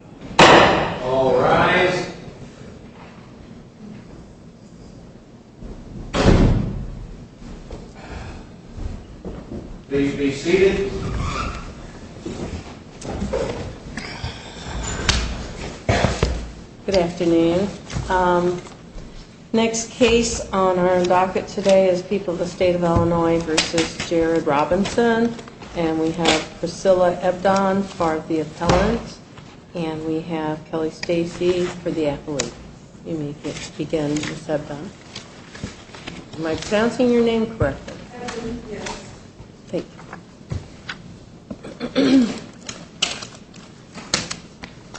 Good afternoon. Next case on our docket today is People of the State of Illinois v. Jared Robinson, and we have Priscilla Ebdon for the appellant. You may begin Ms. Ebdon. Am I pronouncing your name correctly? Yes. Thank you.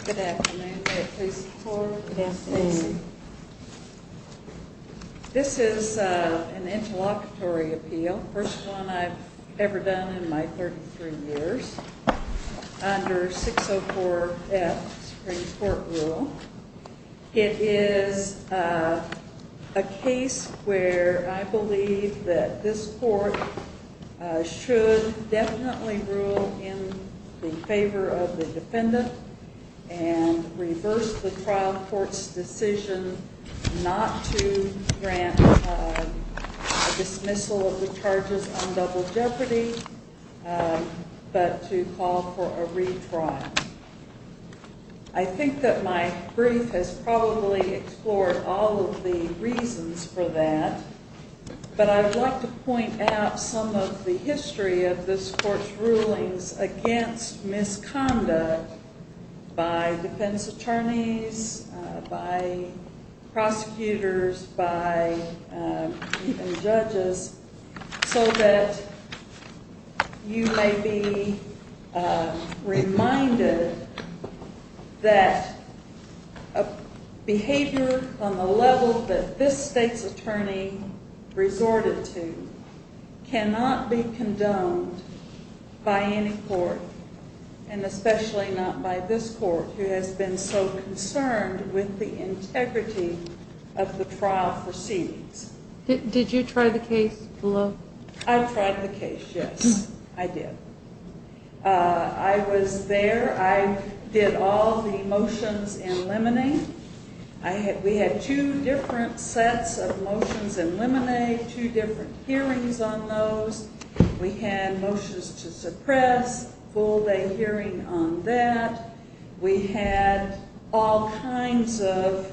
Good afternoon. May I please have the floor? Yes, please. This is an interlocutory appeal, the first one I've ever done in my 33 years under 604F Supreme Court rule. It is a case where I believe that this court should definitely rule in favor of the defendant and reverse the trial court's decision not to grant a dismissal of the charges on double jeopardy, but to call for a retrial. I think that my brief has probably explored all of the reasons for that, but I'd like to point out some of the history of this court's rulings against misconduct by defense attorneys, by prosecutors, by even judges, so that you may be reminded that a behavior on the level that this state's attorney resorted to cannot be condoned by any court, and especially not by this court, who has been so concerned with the integrity of the trial proceedings. Did you try the case? I tried the case, yes. I did. I was there. I did all the motions in limine. We had two different sets of motions in limine, two different hearings on those. We had motions to suppress, full day hearing on that. We had all kinds of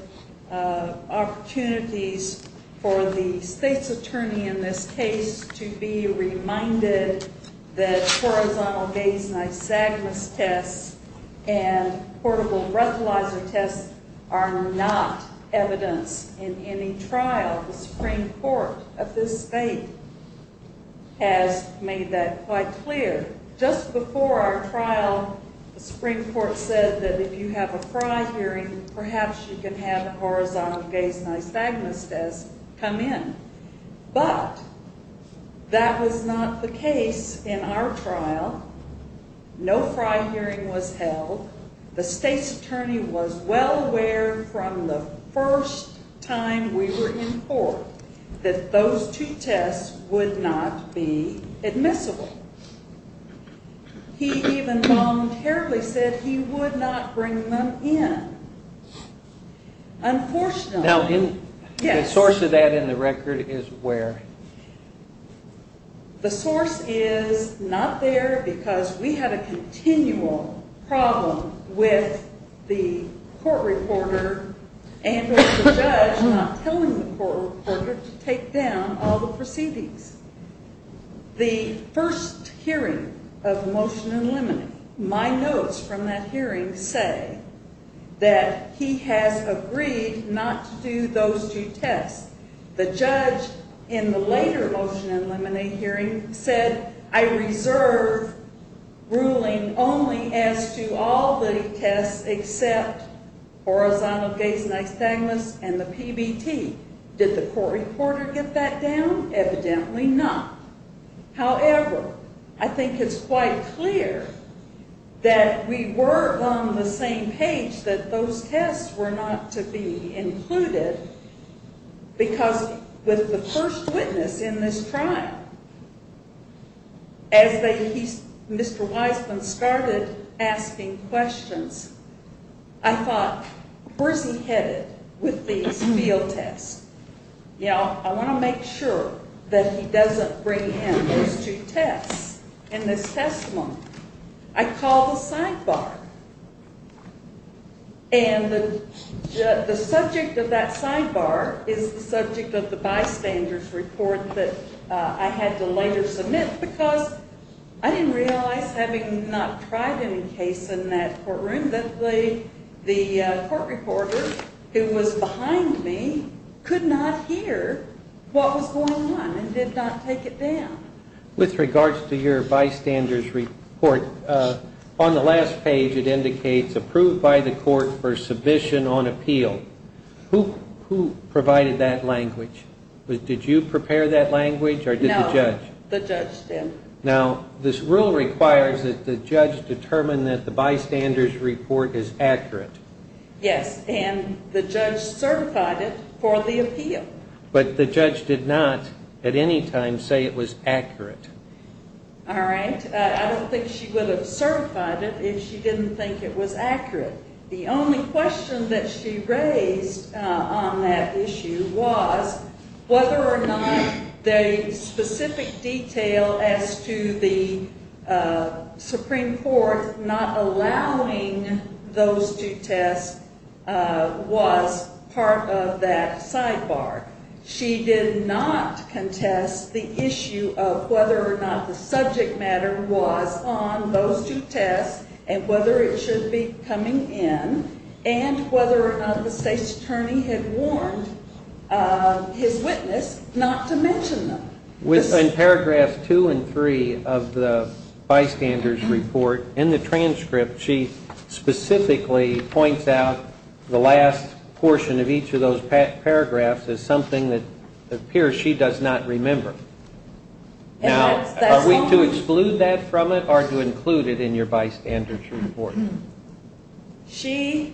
opportunities for the state's attorney in this case to be reminded that horizontal base nystagmus tests and portable breathalyzer tests are not evidence in any trial. The Supreme Court of this state has made that quite clear. Just before our trial, the Supreme Court said that if you have a fry hearing, perhaps you can have a horizontal base nystagmus test come in. But that was not the case in our trial. The state's attorney was well aware from the first time we were in court that those two tests would not be admissible. He even long terribly said he would not bring them in. Unfortunately, yes. The source of that in the record is where? The source is not there because we had a continual problem with the court reporter and with the judge not telling the court reporter to take down all the proceedings. The first hearing of the motion in limine, my notes from that hearing say that he has agreed not to do those two tests. The judge in the later motion in limine hearing said I reserve ruling only as to all the tests except horizontal base nystagmus and the PBT. Did the court reporter get that down? Evidently not. However, I think it's quite clear that we were on the same page that those tests were not to be included because with the first witness in this trial, as Mr. Wiseman started asking questions, I thought, where is he headed with these field tests? I want to make sure that he doesn't bring in those two tests in this testimony. I called the sidebar and the subject of that sidebar is the subject of the bystander's report that I had to later submit because I didn't realize having not tried any case in that courtroom that the court reporter who was behind me could not hear what was going on and did not take it down. With regards to your bystander's report, on the last page it indicates approved by the court for submission on appeal. Who provided that language? Did you prepare that language or did the judge? No, the judge did. Now, this rule requires that the judge determine that the bystander's report is accurate. Yes, and the judge certified it for the appeal. But the judge did not at any time say it was accurate. All right. I don't think she would have certified it if she didn't think it was accurate. The only question that she raised on that issue was whether or not the specific detail as to the Supreme Court not allowing those two tests was part of that sidebar. She did not contest the issue of whether or not the subject matter was on those two tests and whether it should be coming in and whether or not the state's attorney had warned his witness not to mention them. In paragraphs two and three of the bystander's report, in the transcript, she specifically points out the last portion of each of those paragraphs as something that appears she does not remember. Now, are we to exclude that from it or to include it in your bystander's report? She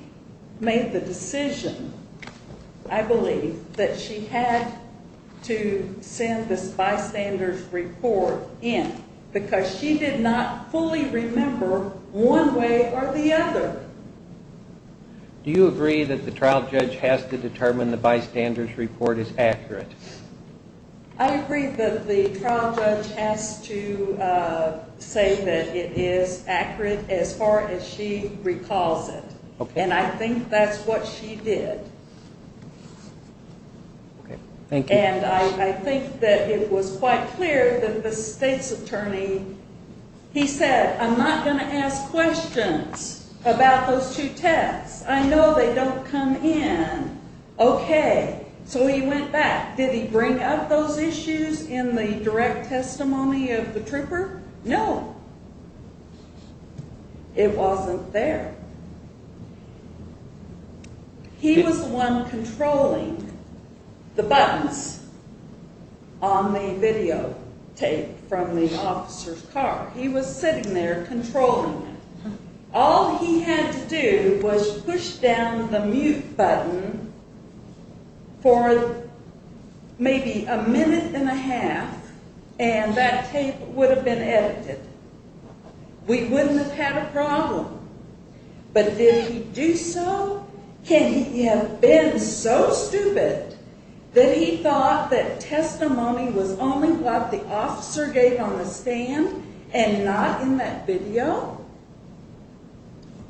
made the decision, I believe, that she had to send the bystander's report in because she did not fully remember one way or the other. Do you agree that the trial judge has to determine the bystander's report is accurate? I agree that the trial judge has to say that it is accurate as far as she recalls it. And I think that's what she did. And I think that it was quite clear that the state's attorney, he said, I'm not going to ask questions about those two tests. I know they don't come in. Okay. So he went back. Did he bring up those issues in the direct testimony of the trooper? No. It wasn't there. He was the one controlling the buttons on the videotape from the officer's car. He was sitting there controlling it. All he had to do was push down the mute button for maybe a minute and a half, and that tape would have been edited. We wouldn't have had a problem. But did he do so? Can he have been so stupid that he thought that testimony was only what the officer gave on the stand and not in that video?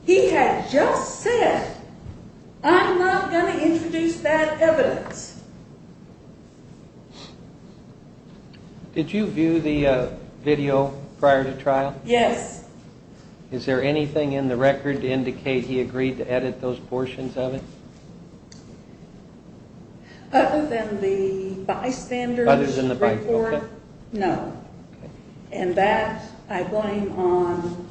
He had just said, I'm not going to introduce that evidence. Did you view the video prior to trial? Yes. Is there anything in the record to indicate he agreed to edit those portions of it? Other than the bystanders report? Other than the bystanders, okay. No. Okay. And that I blame on,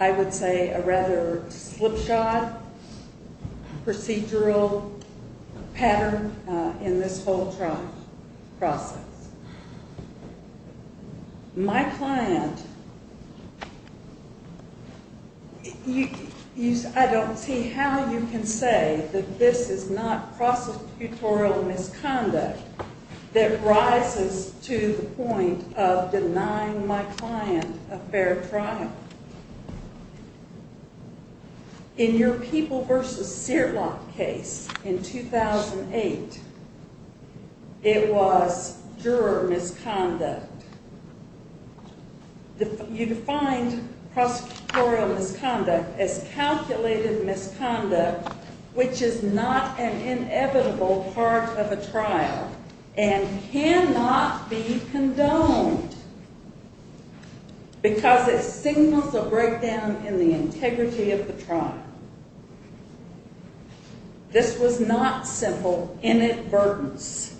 I would say, a rather slipshod procedural pattern in this whole trial process. My client, I don't see how you can say that this is not prosecutorial misconduct that rises to the point of denying my client a fair trial. In your People v. Searlock case in 2008, it was juror misconduct. You defined prosecutorial misconduct as calculated misconduct which is not an inevitable part of a trial and cannot be condoned. Because it signals a breakdown in the integrity of the trial. This was not simple inadvertence.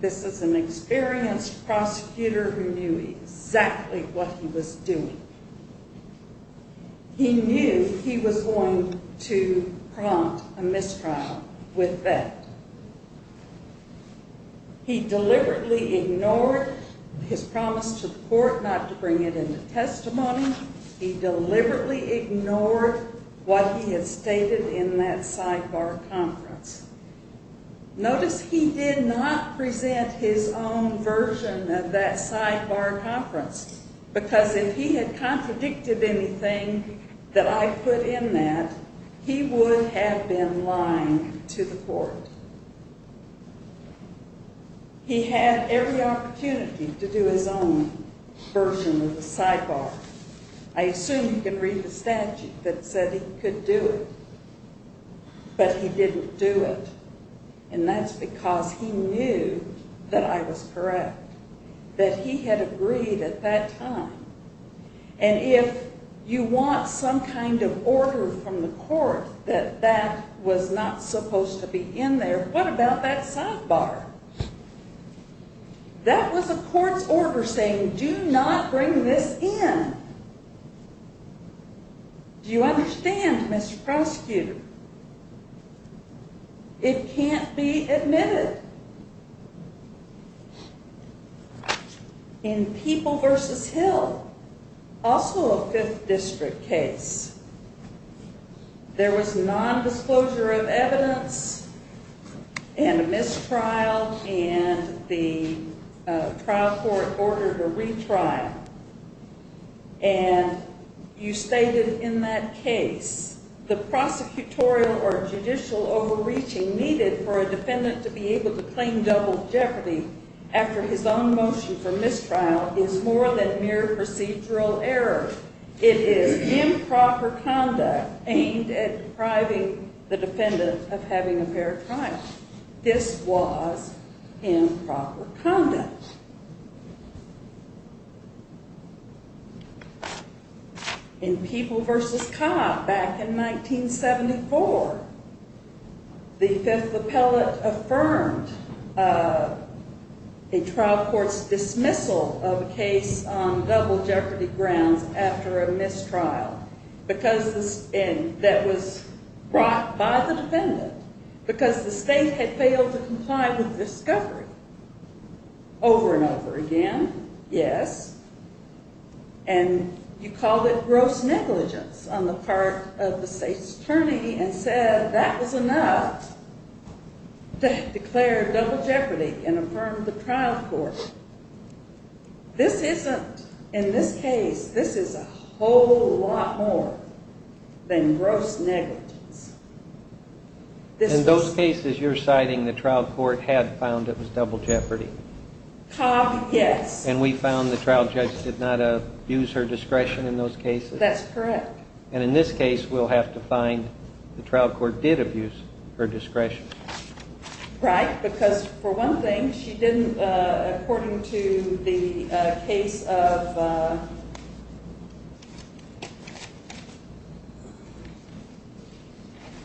This is an experienced prosecutor who knew exactly what he was doing. He knew he was going to prompt a mistrial with that. He deliberately ignored his promise to the court not to bring it into testimony. He deliberately ignored what he had stated in that sidebar conference. Notice he did not present his own version of that sidebar conference. Because if he had contradicted anything that I put in that, he would have been lying to the court. He had every opportunity to do his own version of the sidebar. I assume you can read the statute that said he could do it. But he didn't do it. And that's because he knew that I was correct. That he had agreed at that time. And if you want some kind of order from the court that that was not supposed to be in there, what about that sidebar? That was a court's order saying do not bring this in. Do you understand, Mr. Prosecutor? It can't be admitted. In People v. Hill, also a 5th District case, there was nondisclosure of evidence and a mistrial and the trial court ordered a retrial. And you stated in that case, the prosecutorial or judicial overreaching needed for a defendant to be able to claim double jeopardy after his own motion for mistrial is more than mere procedural error. It is improper conduct aimed at depriving the defendant of having a fair trial. This was improper conduct. In People v. Cobb, back in 1974, the 5th Appellate affirmed a trial court's dismissal of a case on double jeopardy grounds after a mistrial. That was brought by the defendant because the state had failed to comply with discovery. Over and over again, yes. And you called it gross negligence on the part of the state's attorney and said that was enough to declare double jeopardy and affirm the trial court. This isn't. In this case, this is a whole lot more than gross negligence. In those cases you're citing, the trial court had found it was double jeopardy? Cobb, yes. And we found the trial judge did not abuse her discretion in those cases? That's correct. And in this case, we'll have to find the trial court did abuse her discretion. Right, because for one thing, she didn't, according to the case of... I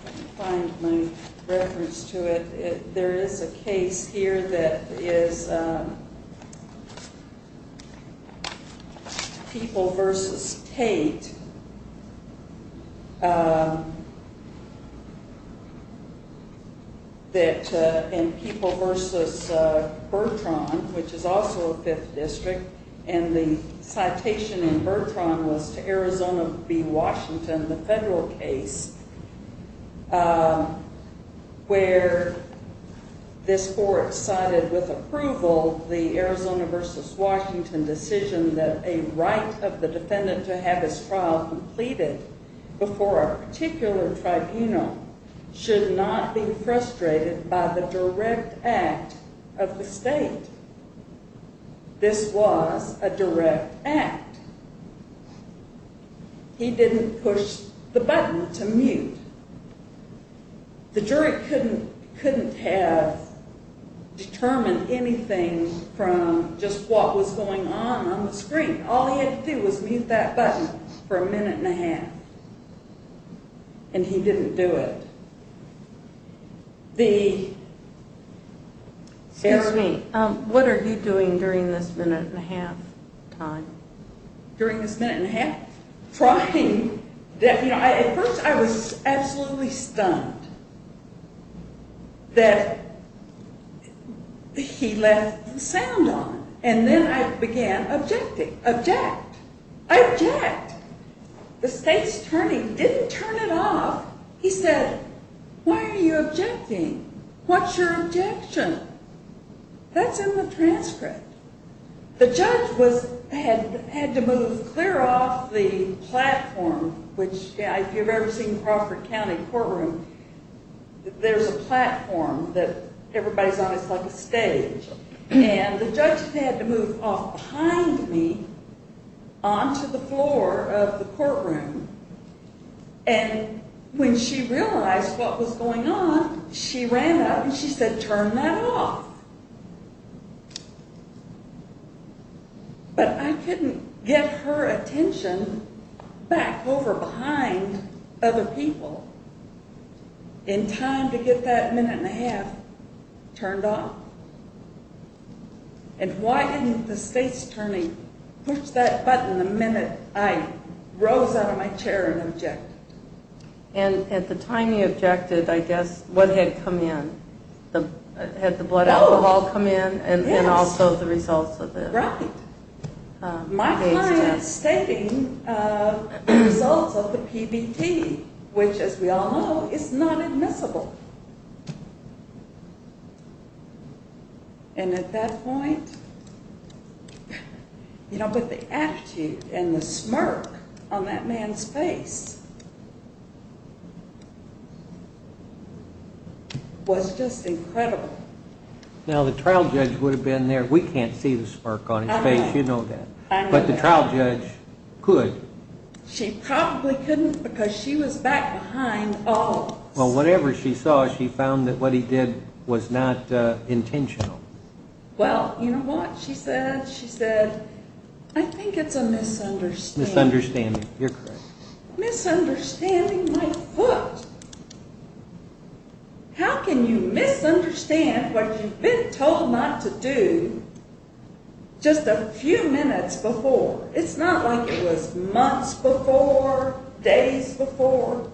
can't find my reference to it. There is a case here that is People v. Tate. In People v. Bertrand, which is also a 5th District, and the citation in Bertrand was to Arizona v. Washington, the federal case, where this court cited with approval the Arizona v. Washington decision that a right of the defendant to have his trial completed before a particular tribunal should not be frustrated by the direct act of the state. This was a direct act. He didn't push the button to mute. The jury couldn't have determined anything from just what was going on on the screen. All he had to do was mute that button for a minute and a half, and he didn't do it. Excuse me. What are you doing during this minute and a half time? During this minute and a half? At first, I was absolutely stunned that he left the sound on, and then I began to object. I object! The state's attorney didn't turn it off. He said, why are you objecting? What's your objection? That's in the transcript. The judge had to move clear off the platform, which if you've ever seen Crawford County Courtroom, there's a platform that everybody's on. It's like a stage. The judge had to move off behind me onto the floor of the courtroom. When she realized what was going on, she ran up and she said, turn that off. But I couldn't get her attention back over behind other people in time to get that minute and a half turned off. Why didn't the state's attorney push that button the minute I rose out of my chair and objected? At the time you objected, I guess, what had come in? Had the blood alcohol come in and also the results of this? Right. My client's stating the results of the PBT, which as we all know, is not admissible. At that point, the attitude and the smirk on that man's face was just incredible. Now, the trial judge would have been there. We can't see the smirk on his face. You know that. But the trial judge could. She probably couldn't because she was back behind all of us. Well, whatever she saw, she found that what he did was not intentional. Well, you know what she said? She said, I think it's a misunderstanding. Misunderstanding. You're correct. Misunderstanding my foot. How can you misunderstand what you've been told not to do just a few minutes before? It's not like it was months before, days before.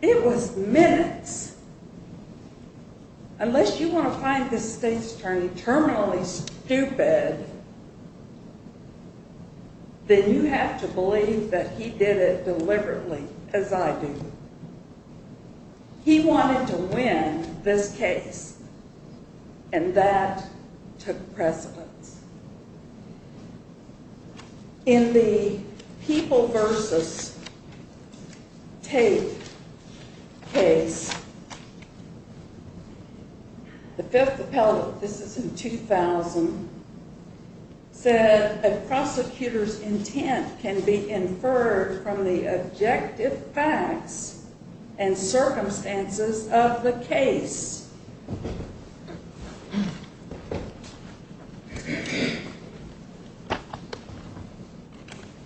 It was minutes. Unless you want to find this state's attorney terminally stupid, then you have to believe that he did it deliberately, as I do. He wanted to win this case, and that took precedence. In the People v. Tate case, the Fifth Appellate, this is in 2000, said a prosecutor's intent can be inferred from the objective facts and circumstances of the case.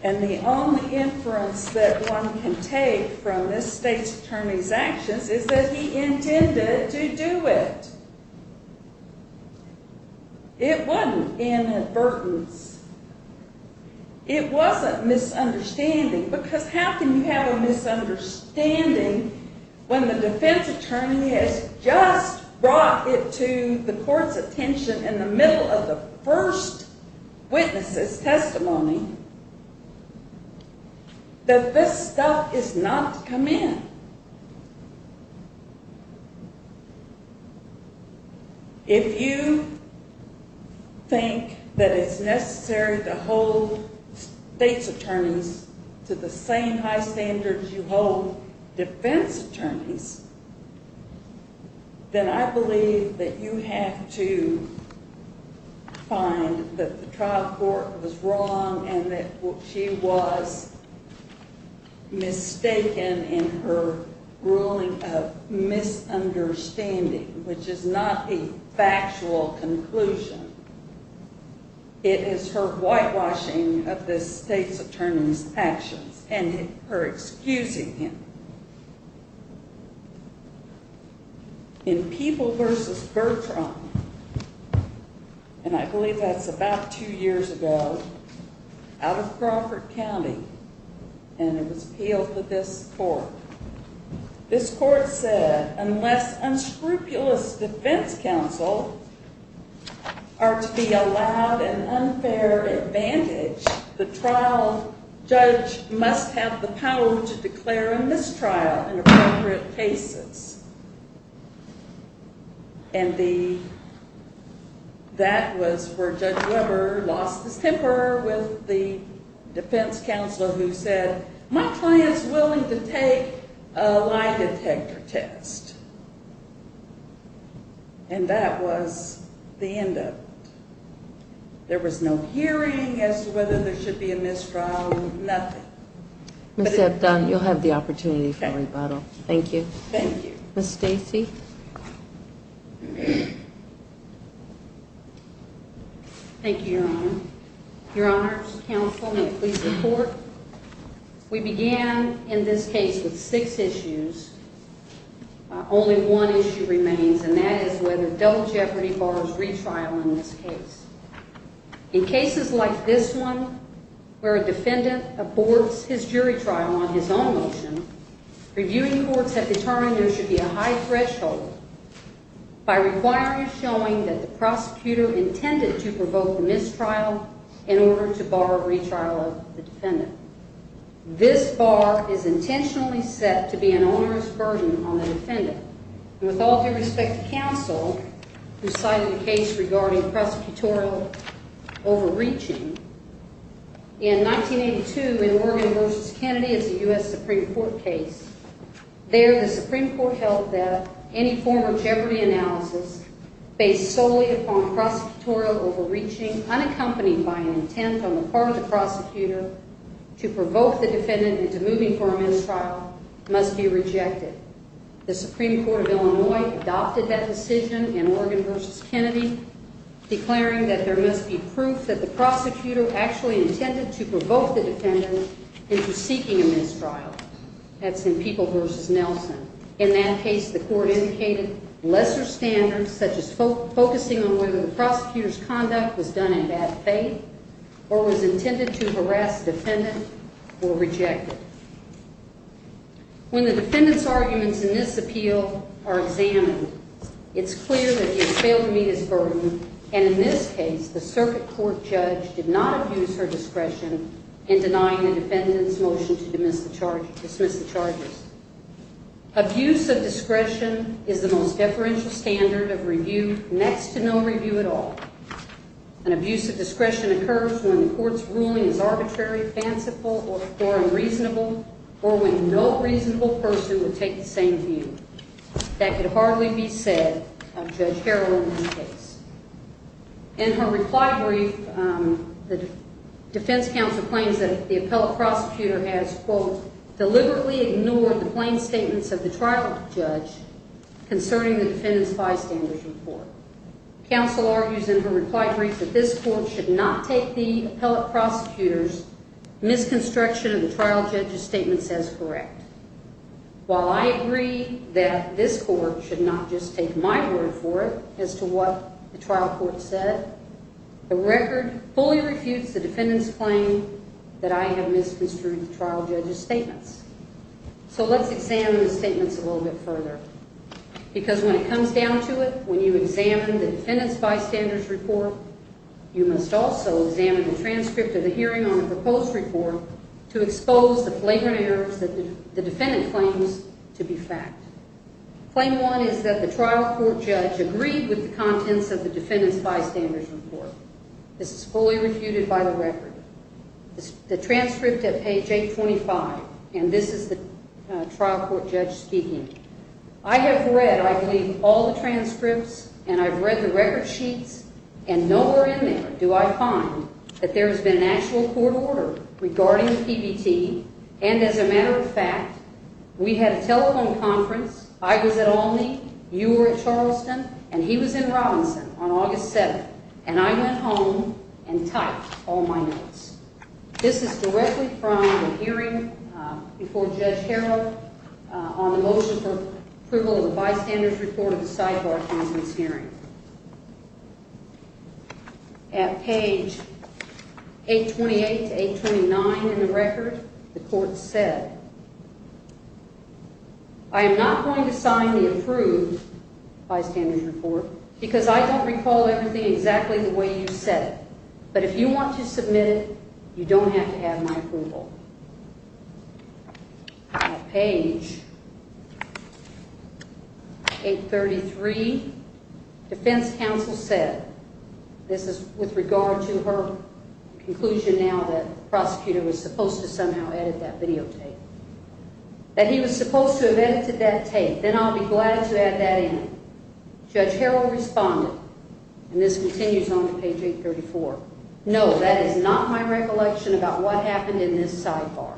And the only inference that one can take from this state's attorney's actions is that he intended to do it. It wasn't inadvertence. It wasn't misunderstanding, because how can you have a misunderstanding when the defense attorney has just brought it to the court's attention in the middle of the first witness's testimony that this stuff is not to come in? If you think that it's necessary to hold state's attorneys to the same high standards you hold defense attorneys, then I believe that you have to find that the trial court was wrong and that she was mistaken in her ruling of misunderstanding, which is not a factual conclusion. It is her whitewashing of this state's attorney's actions and her excusing him. In People v. Bertram, and I believe that's about two years ago, out of Crawford County, and it was appealed to this court, this court said, unless unscrupulous defense counsel are to be allowed an unfair advantage, the trial judge must have the power to declare a mistrial in appropriate cases. And that was where Judge Weber lost his temper with the defense counselor who said, my client is willing to take a lie detector test. And that was the end of it. There was no hearing as to whether there should be a mistrial, nothing. Ms. Hebdon, you'll have the opportunity for rebuttal. Thank you. Thank you. Ms. Stacy? Thank you, Your Honor. Your Honors, counsel, may it please the Court. We began in this case with six issues. Only one issue remains, and that is whether double jeopardy borrows retrial in this case. In cases like this one, where a defendant aborts his jury trial on his own motion, reviewing courts have determined there should be a high threshold by requiring a showing that the prosecutor intended to provoke the mistrial in order to borrow a retrial of the defendant. This bar is intentionally set to be an onerous burden on the defendant. And with all due respect to counsel, who cited a case regarding prosecutorial overreaching, in 1982 in Morgan v. Kennedy, it's a U.S. Supreme Court case. There, the Supreme Court held that any form of jeopardy analysis based solely upon prosecutorial overreaching unaccompanied by an intent on the part of the prosecutor to provoke the defendant into moving for a mistrial must be rejected. The Supreme Court of Illinois adopted that decision in Morgan v. Kennedy, declaring that there must be proof that the prosecutor actually intended to provoke the defendant into seeking a mistrial. That's in People v. Nelson. In that case, the court indicated lesser standards, such as focusing on whether the prosecutor's conduct was done in bad faith or was intended to harass the defendant or reject it. When the defendant's arguments in this appeal are examined, it's clear that he has failed to meet his burden, and in this case, the circuit court judge did not abuse her discretion in denying the defendant's motion to dismiss the charges. Abuse of discretion is the most deferential standard of review, next to no review at all. An abuse of discretion occurs when the court's ruling is arbitrary, fanciful, or unreasonable, or when no reasonable person would take the same view. That could hardly be said of Judge Harrell in this case. In her reply brief, the defense counsel claims that the appellate prosecutor has, quote, deliberately ignored the plain statements of the trial judge concerning the defendant's bystander's report. Counsel argues in her reply brief that this court should not take the appellate prosecutor's misconstruction of the trial judge's statements as correct. While I agree that this court should not just take my word for it as to what the trial court said, the record fully refutes the defendant's claim that I have misconstrued the trial judge's statements. So let's examine the statements a little bit further, because when it comes down to it, when you examine the defendant's bystander's report, you must also examine the transcript of the hearing on the proposed report to expose the flagrant errors that the defendant claims to be fact. Claim one is that the trial court judge agreed with the contents of the defendant's bystander's report. This is fully refuted by the record. The transcript at page 825, and this is the trial court judge speaking. I have read, I believe, all the transcripts, and I've read the record sheets, and nowhere in there do I find that there has been an actual court order regarding the PBT. And as a matter of fact, we had a telephone conference. I was at Olney, you were at Charleston, and he was in Robinson on August 7th, and I went home and typed all my notes. This is directly from the hearing before Judge Harrell on the motion for approval of the bystander's report to go to the site of our defendant's hearing. At page 828 to 829 in the record, the court said, I am not going to sign the approved bystander's report because I don't recall everything exactly the way you said it, but if you want to submit it, you don't have to have my approval. At page 833, defense counsel said, this is with regard to her conclusion now that the prosecutor was supposed to somehow edit that videotape, that he was supposed to have edited that tape, then I'll be glad to add that in. Judge Harrell responded, and this continues on to page 834, no, that is not my recollection about what happened in this sidebar.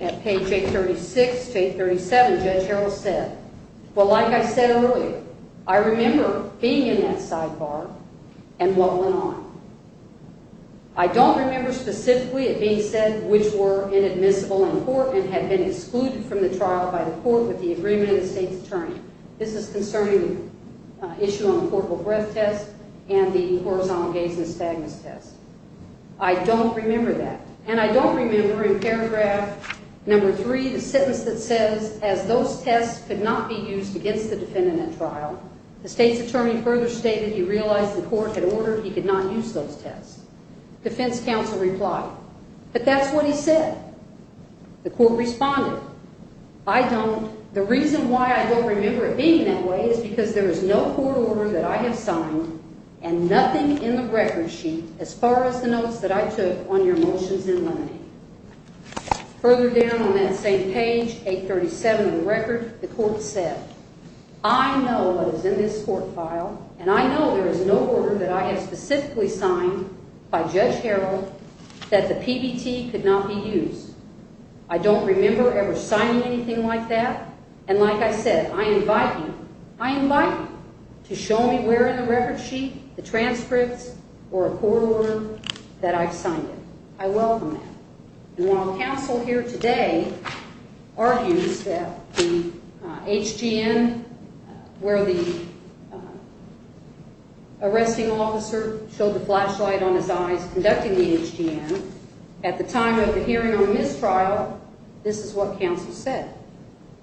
At page 836 to 837, Judge Harrell said, well, like I said earlier, I remember being in that sidebar and what went on. I don't remember specifically it being said which were inadmissible in court and had been excluded from the trial by the court with the agreement of the state's attorney. This is concerning the issue on the portable breath test and the horizontal gaze and stagness test. I don't remember that, and I don't remember in paragraph number three the sentence that says, as those tests could not be used against the defendant at trial, the state's attorney further stated he realized the court had ordered he could not use those tests. Defense counsel replied, but that's what he said. The court responded, I don't. The reason why I don't remember it being that way is because there is no court order that I have signed and nothing in the record sheet as far as the notes that I took on your motions in limine. Further down on that same page, 837 of the record, the court said, I know what is in this court file, and I know there is no order that I have specifically signed by Judge Harrell that the PBT could not be used. I don't remember ever signing anything like that, and like I said, I invite you, I invite you to show me where in the record sheet, the transcripts, or a court order that I've signed it. I welcome that. And while counsel here today argues that the HGN, where the arresting officer showed the flashlight on his eyes conducting the HGN at the time of the hearing or mistrial, this is what counsel said.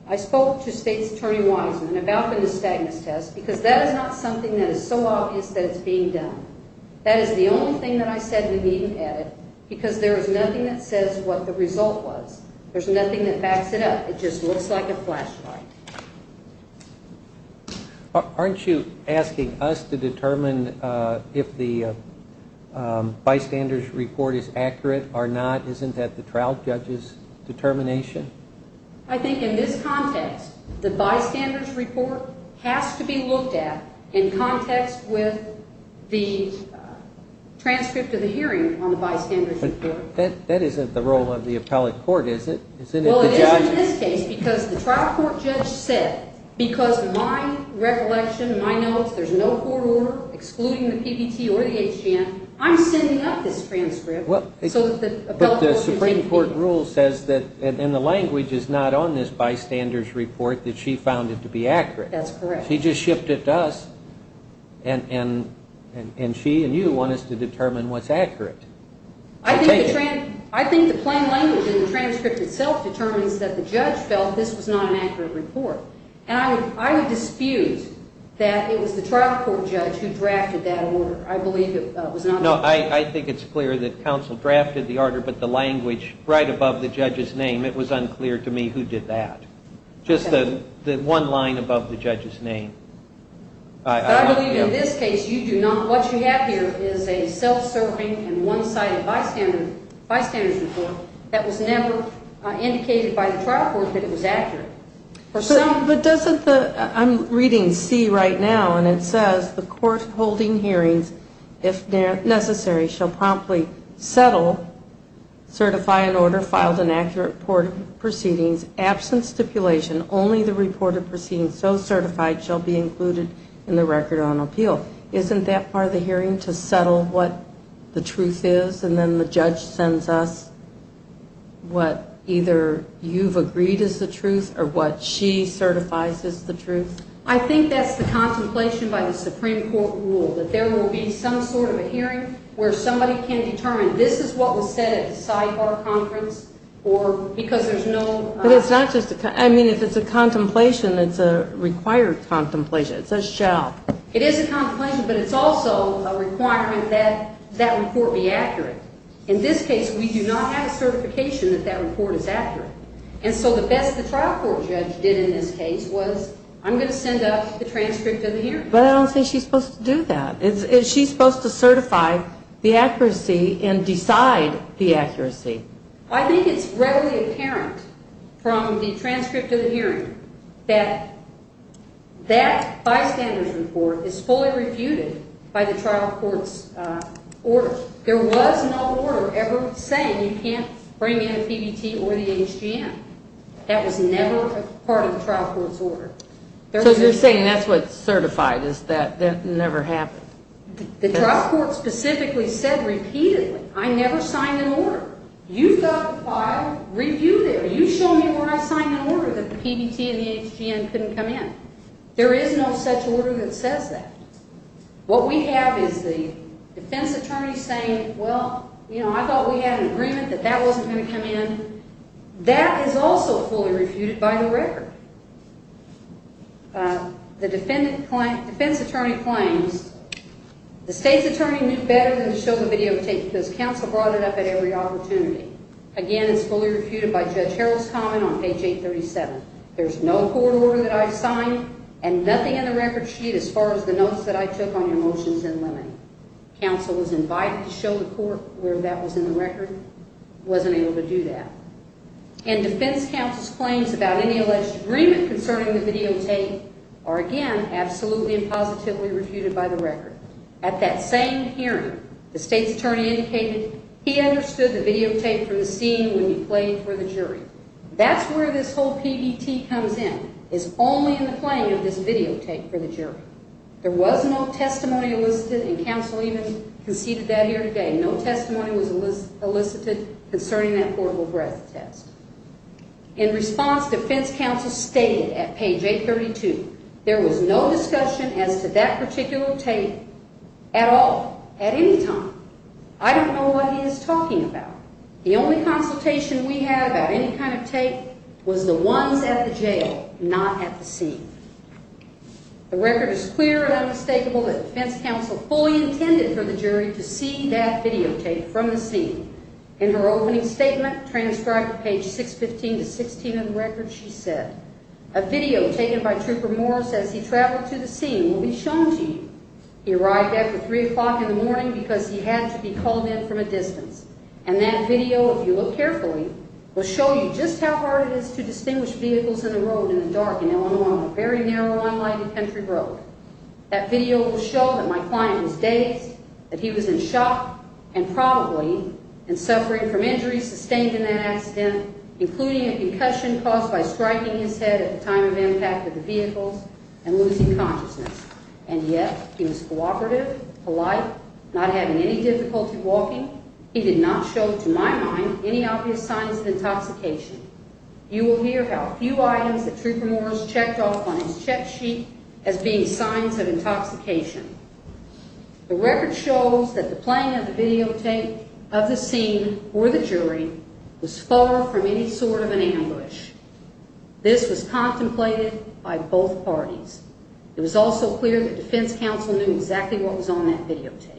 I spoke to State's Attorney Wiseman about the nystagmus test because that is not something that is so obvious that it's being done. That is the only thing that I said in the meeting at it because there is nothing that says what the result was. There's nothing that backs it up. It just looks like a flashlight. Aren't you asking us to determine if the bystander's report is accurate or not? Isn't that the trial judge's determination? I think in this context, the bystander's report has to be looked at in context with the transcript of the hearing on the bystander's report. But that isn't the role of the appellate court, is it? Well, it is in this case because the trial court judge said because of my recollection, my notes, there's no court order excluding the PBT or the HGN, I'm sending up this transcript so that the appellate court can take it. But the Supreme Court rule says that, and the language is not on this bystander's report, that she found it to be accurate. That's correct. She just shipped it to us, and she and you want us to determine what's accurate. I think the plain language in the transcript itself determines that the judge felt this was not an accurate report. And I would dispute that it was the trial court judge who drafted that order. I believe it was not. No, I think it's clear that counsel drafted the order, but the language right above the judge's name, it was unclear to me who did that. Just the one line above the judge's name. But I believe in this case you do not. What you have here is a self-serving and one-sided bystander's report that was never indicated by the trial court that it was accurate. But doesn't the ‑‑ I'm reading C right now, and it says the court holding hearings, if necessary, shall promptly settle, certify an order, filed an accurate report of proceedings, absent stipulation, only the report of proceedings so certified shall be included in the record on appeal. Isn't that part of the hearing, to settle what the truth is, and then the judge sends us what either you've agreed is the truth or what she certifies is the truth? I think that's the contemplation by the Supreme Court rule, that there will be some sort of a hearing where somebody can determine, this is what was said at the Sci Bar conference, or because there's no ‑‑ But it's not just a ‑‑ I mean, if it's a contemplation, it's a required contemplation. It's a shall. It is a contemplation, but it's also a requirement that that report be accurate. In this case, we do not have a certification that that report is accurate. And so the best the trial court judge did in this case was, I'm going to send up the transcript of the hearing. But I don't think she's supposed to do that. Is she supposed to certify the accuracy and decide the accuracy? I think it's readily apparent from the transcript of the hearing that that bystander's report is fully refuted by the trial court's order. There was no order ever saying you can't bring in a PBT or the HGM. That was never part of the trial court's order. So you're saying that's what's certified, is that that never happened? The trial court specifically said repeatedly, I never signed an order. You fill out the file, review it. You show me where I signed an order that the PBT and the HGM couldn't come in. There is no such order that says that. What we have is the defense attorney saying, well, you know, I thought we had an agreement that that wasn't going to come in. That is also fully refuted by the record. The defense attorney claims the state's attorney knew better than to show the videotape because counsel brought it up at every opportunity. Again, it's fully refuted by Judge Harrell's comment on page 837. There's no court order that I've signed and nothing in the record sheet as far as the notes that I took on your motions and limiting. Counsel was invited to show the court where that was in the record, wasn't able to do that. And defense counsel's claims about any alleged agreement concerning the videotape are, again, absolutely and positively refuted by the record. At that same hearing, the state's attorney indicated he understood the videotape from the scene would be played for the jury. That's where this whole PBT comes in, is only in the playing of this videotape for the jury. There was no testimony elicited and counsel even conceded that here today. No testimony was elicited concerning that portable breath test. In response, defense counsel stated at page 832, there was no discussion as to that particular tape at all, at any time. I don't know what he is talking about. The only consultation we had about any kind of tape was the ones at the jail, not at the scene. The record is clear and unmistakable that defense counsel fully intended for the jury to see that videotape from the scene. In her opening statement, transcribed at page 615 to 616 of the record, she said, A video taken by Trooper Morris as he traveled to the scene will be shown to you. He arrived after 3 o'clock in the morning because he had to be called in from a distance. And that video, if you look carefully, will show you just how hard it is to distinguish vehicles in the road in the dark in Illinois, on a very narrow, unlighted country road. That video will show that my client was dazed, that he was in shock and probably in suffering from injuries sustained in that accident, including a concussion caused by striking his head at the time of impact of the vehicles and losing consciousness. And yet, he was cooperative, polite, not having any difficulty walking. He did not show, to my mind, any obvious signs of intoxication. You will hear how few items that Trooper Morris checked off on his check sheet as being signs of intoxication. The record shows that the playing of the videotape of the scene or the jury was far from any sort of an ambush. This was contemplated by both parties. It was also clear that defense counsel knew exactly what was on that videotape.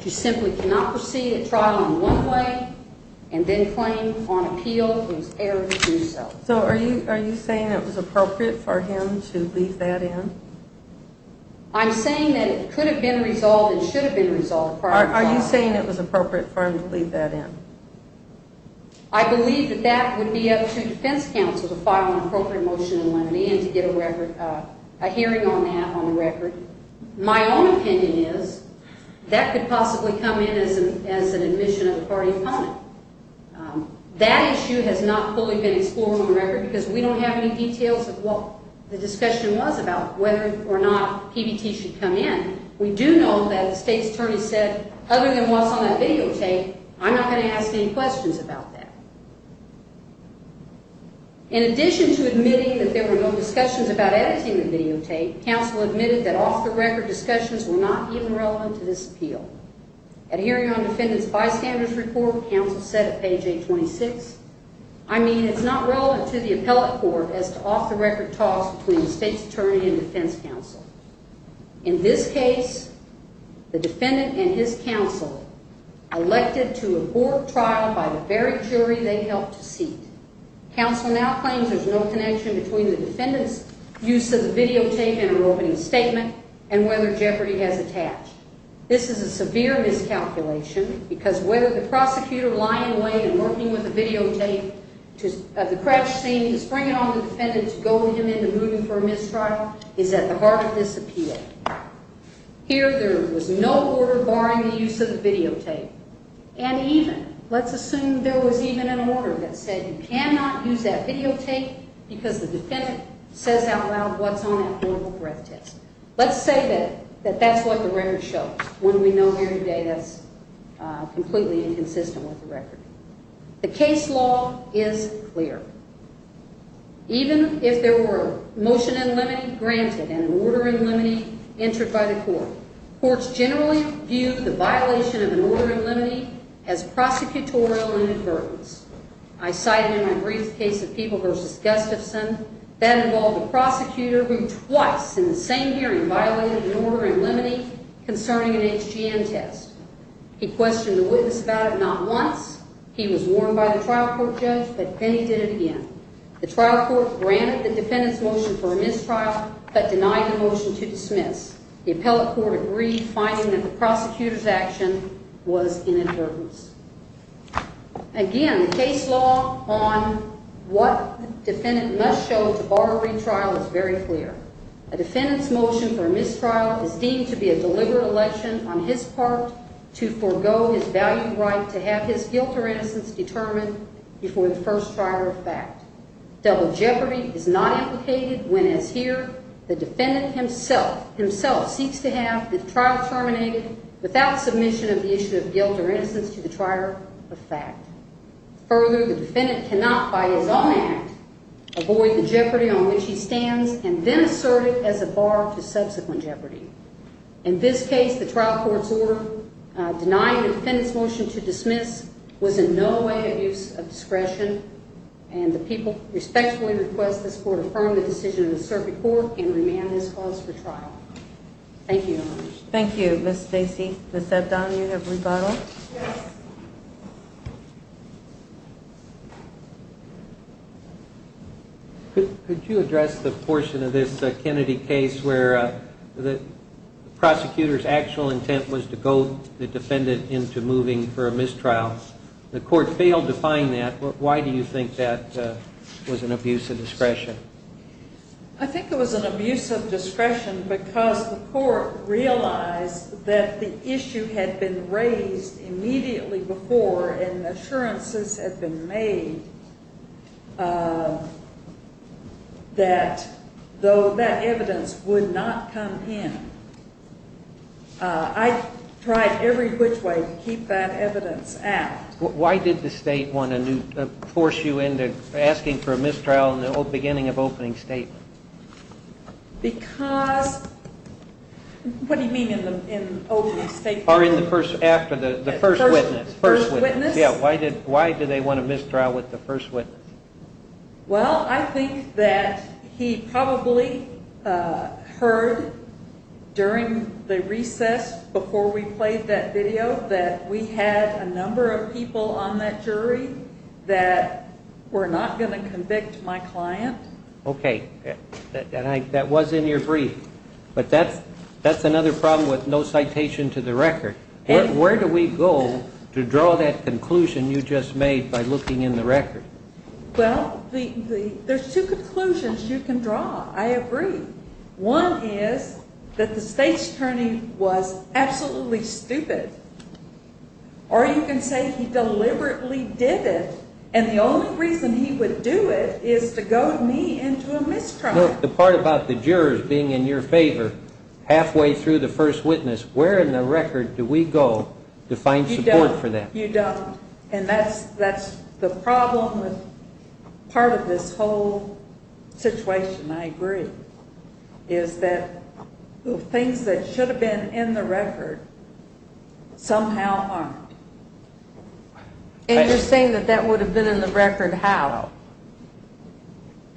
He simply could not proceed at trial in one way and then claim on appeal it was error to do so. So are you saying it was appropriate for him to leave that in? I'm saying that it could have been resolved and should have been resolved prior to trial. Are you saying it was appropriate for him to leave that in? I believe that that would be up to defense counsel to file an appropriate motion in limine and to get a hearing on that on the record. My own opinion is that could possibly come in as an admission of a party opponent. That issue has not fully been explored on the record because we don't have any details of what the discussion was about whether or not PBT should come in. We do know that the state's attorney said, other than what's on that videotape, I'm not going to ask any questions about that. In addition to admitting that there were no discussions about editing the videotape, counsel admitted that off-the-record discussions were not even relevant to this appeal. At a hearing on defendant's bystander's report, counsel said at page 826, I mean it's not relevant to the appellate court as to off-the-record talks between the state's attorney and defense counsel. In this case, the defendant and his counsel elected to abort trial by the very jury they helped to seat. Counsel now claims there's no connection between the defendant's use of the videotape in her opening statement and whether jeopardy has attached. This is a severe miscalculation because whether the prosecutor lying away and working with the videotape of the crutch scene is bringing on the defendant to go with him into rooting for a mistrial is at the heart of this appeal. Here there was no order barring the use of the videotape. And even, let's assume there was even an order that said you cannot use that videotape because the defendant says out loud what's on that horrible breath test. Let's say that that's what the record shows. When we know here today that's completely inconsistent with the record. The case law is clear. Even if there were motion in limine granted and an order in limine entered by the court, courts generally view the violation of an order in limine as prosecutorial inadvertence. I cited in my brief case of People v. Gustafson that involved a prosecutor who twice in the same hearing violated an order in limine concerning an HGM test. He questioned the witness about it not once. He was warned by the trial court judge, but then he did it again. The trial court granted the defendant's motion for a mistrial but denied the motion to dismiss. The appellate court agreed, finding that the prosecutor's action was inadvertence. Again, the case law on what the defendant must show to bar a retrial is very clear. A defendant's motion for a mistrial is deemed to be a deliberate election on his part to forego his value right to have his guilt or innocence determined before the first trial of fact. Double jeopardy is not implicated when, as here, the defendant himself seeks to have the trial terminated without submission of the issue of guilt or innocence to the trier of fact. Further, the defendant cannot by his own act avoid the jeopardy on which he stands and then assert it as a bar to subsequent jeopardy. In this case, the trial court's order denying the defendant's motion to dismiss was in no way a use of discretion, and the people respectfully request this court affirm the decision of the circuit court and remand this clause for trial. Thank you. Thank you, Ms. Stacy. Ms. Abdan, you have rebuttal. Yes. Could you address the portion of this Kennedy case where the prosecutor's actual intent was to goad the defendant into moving for a mistrial? The court failed to find that. Why do you think that was an abuse of discretion? I think it was an abuse of discretion because the court realized that the issue had been raised immediately before and assurances had been made that though that evidence would not come in. I tried every which way to keep that evidence out. Why did the state want to force you into asking for a mistrial in the beginning of opening statement? Because, what do you mean in opening statement? After the first witness. First witness? Yeah, why did they want a mistrial with the first witness? Well, I think that he probably heard during the recess before we played that video that we had a number of people on that jury that were not going to convict my client. Okay. That was in your brief, but that's another problem with no citation to the record. Where do we go to draw that conclusion you just made by looking in the record? Well, there's two conclusions you can draw. I agree. One is that the state's attorney was absolutely stupid, or you can say he deliberately did it, and the only reason he would do it is to goad me into a mistrial. The part about the jurors being in your favor halfway through the first witness, where in the record do we go to find support for that? You don't, and that's the problem with part of this whole situation, I agree, is that things that should have been in the record somehow aren't. And you're saying that that would have been in the record how?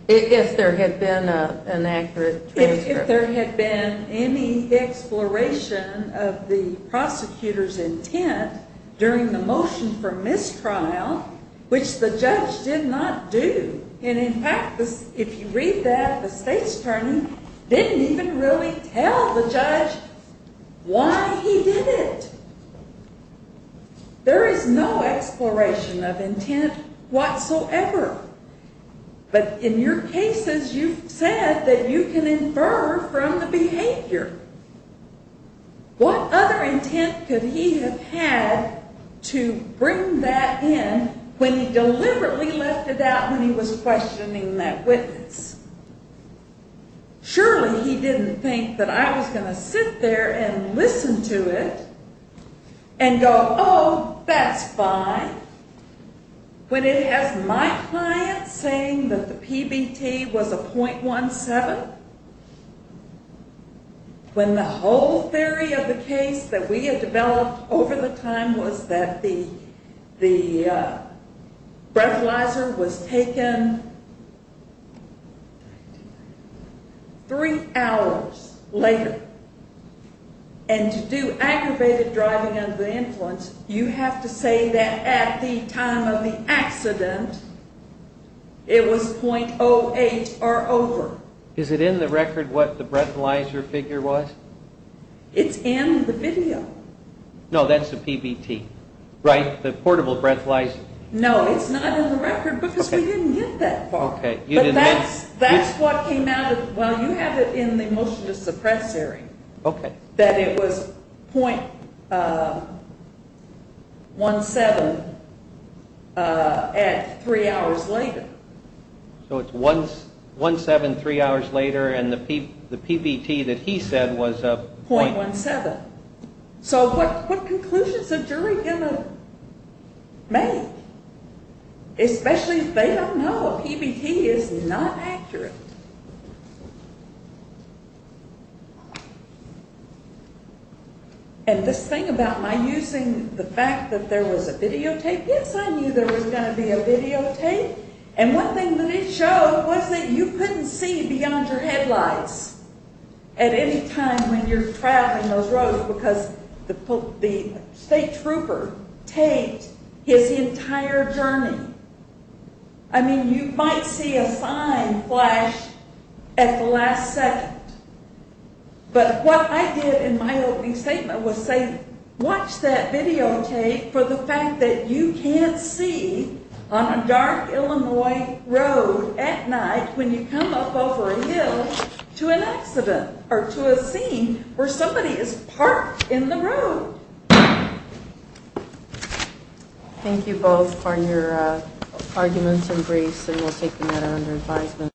If there had been an accurate transcript. If there had been any exploration of the prosecutor's intent during the motion for mistrial, which the judge did not do, and, in fact, if you read that, the state's attorney didn't even really tell the judge why he did it. There is no exploration of intent whatsoever. But in your cases you've said that you can infer from the behavior. What other intent could he have had to bring that in when he deliberately left it out when he was questioning that witness? Surely he didn't think that I was going to sit there and listen to it and go, Oh, that's fine. When it has my client saying that the PBT was a .17, when the whole theory of the case that we had developed over the time was that the breathalyzer was taken three hours later and to do aggravated driving under the influence, you have to say that at the time of the accident it was .08 or over. Is it in the record what the breathalyzer figure was? It's in the video. No, that's the PBT, right, the portable breathalyzer? No, it's not in the record because we didn't get that far. That's what came out of it. Well, you have it in the motion to suppress hearing that it was .17 three hours later. So it's .17 three hours later and the PBT that he said was a .17. So what conclusions is a jury going to make? Especially if they don't know a PBT is not accurate. And this thing about my using the fact that there was a videotape, yes, I knew there was going to be a videotape, and one thing that it showed was that you couldn't see beyond your headlights because the state trooper taped his entire journey. I mean, you might see a sign flash at the last second, but what I did in my opening statement was say watch that videotape for the fact that you can't see on a dark Illinois road at night when you come up over a hill to an accident or to a scene where somebody is parked in the road. Thank you both for your arguments and briefs, and we'll take the matter under advisement.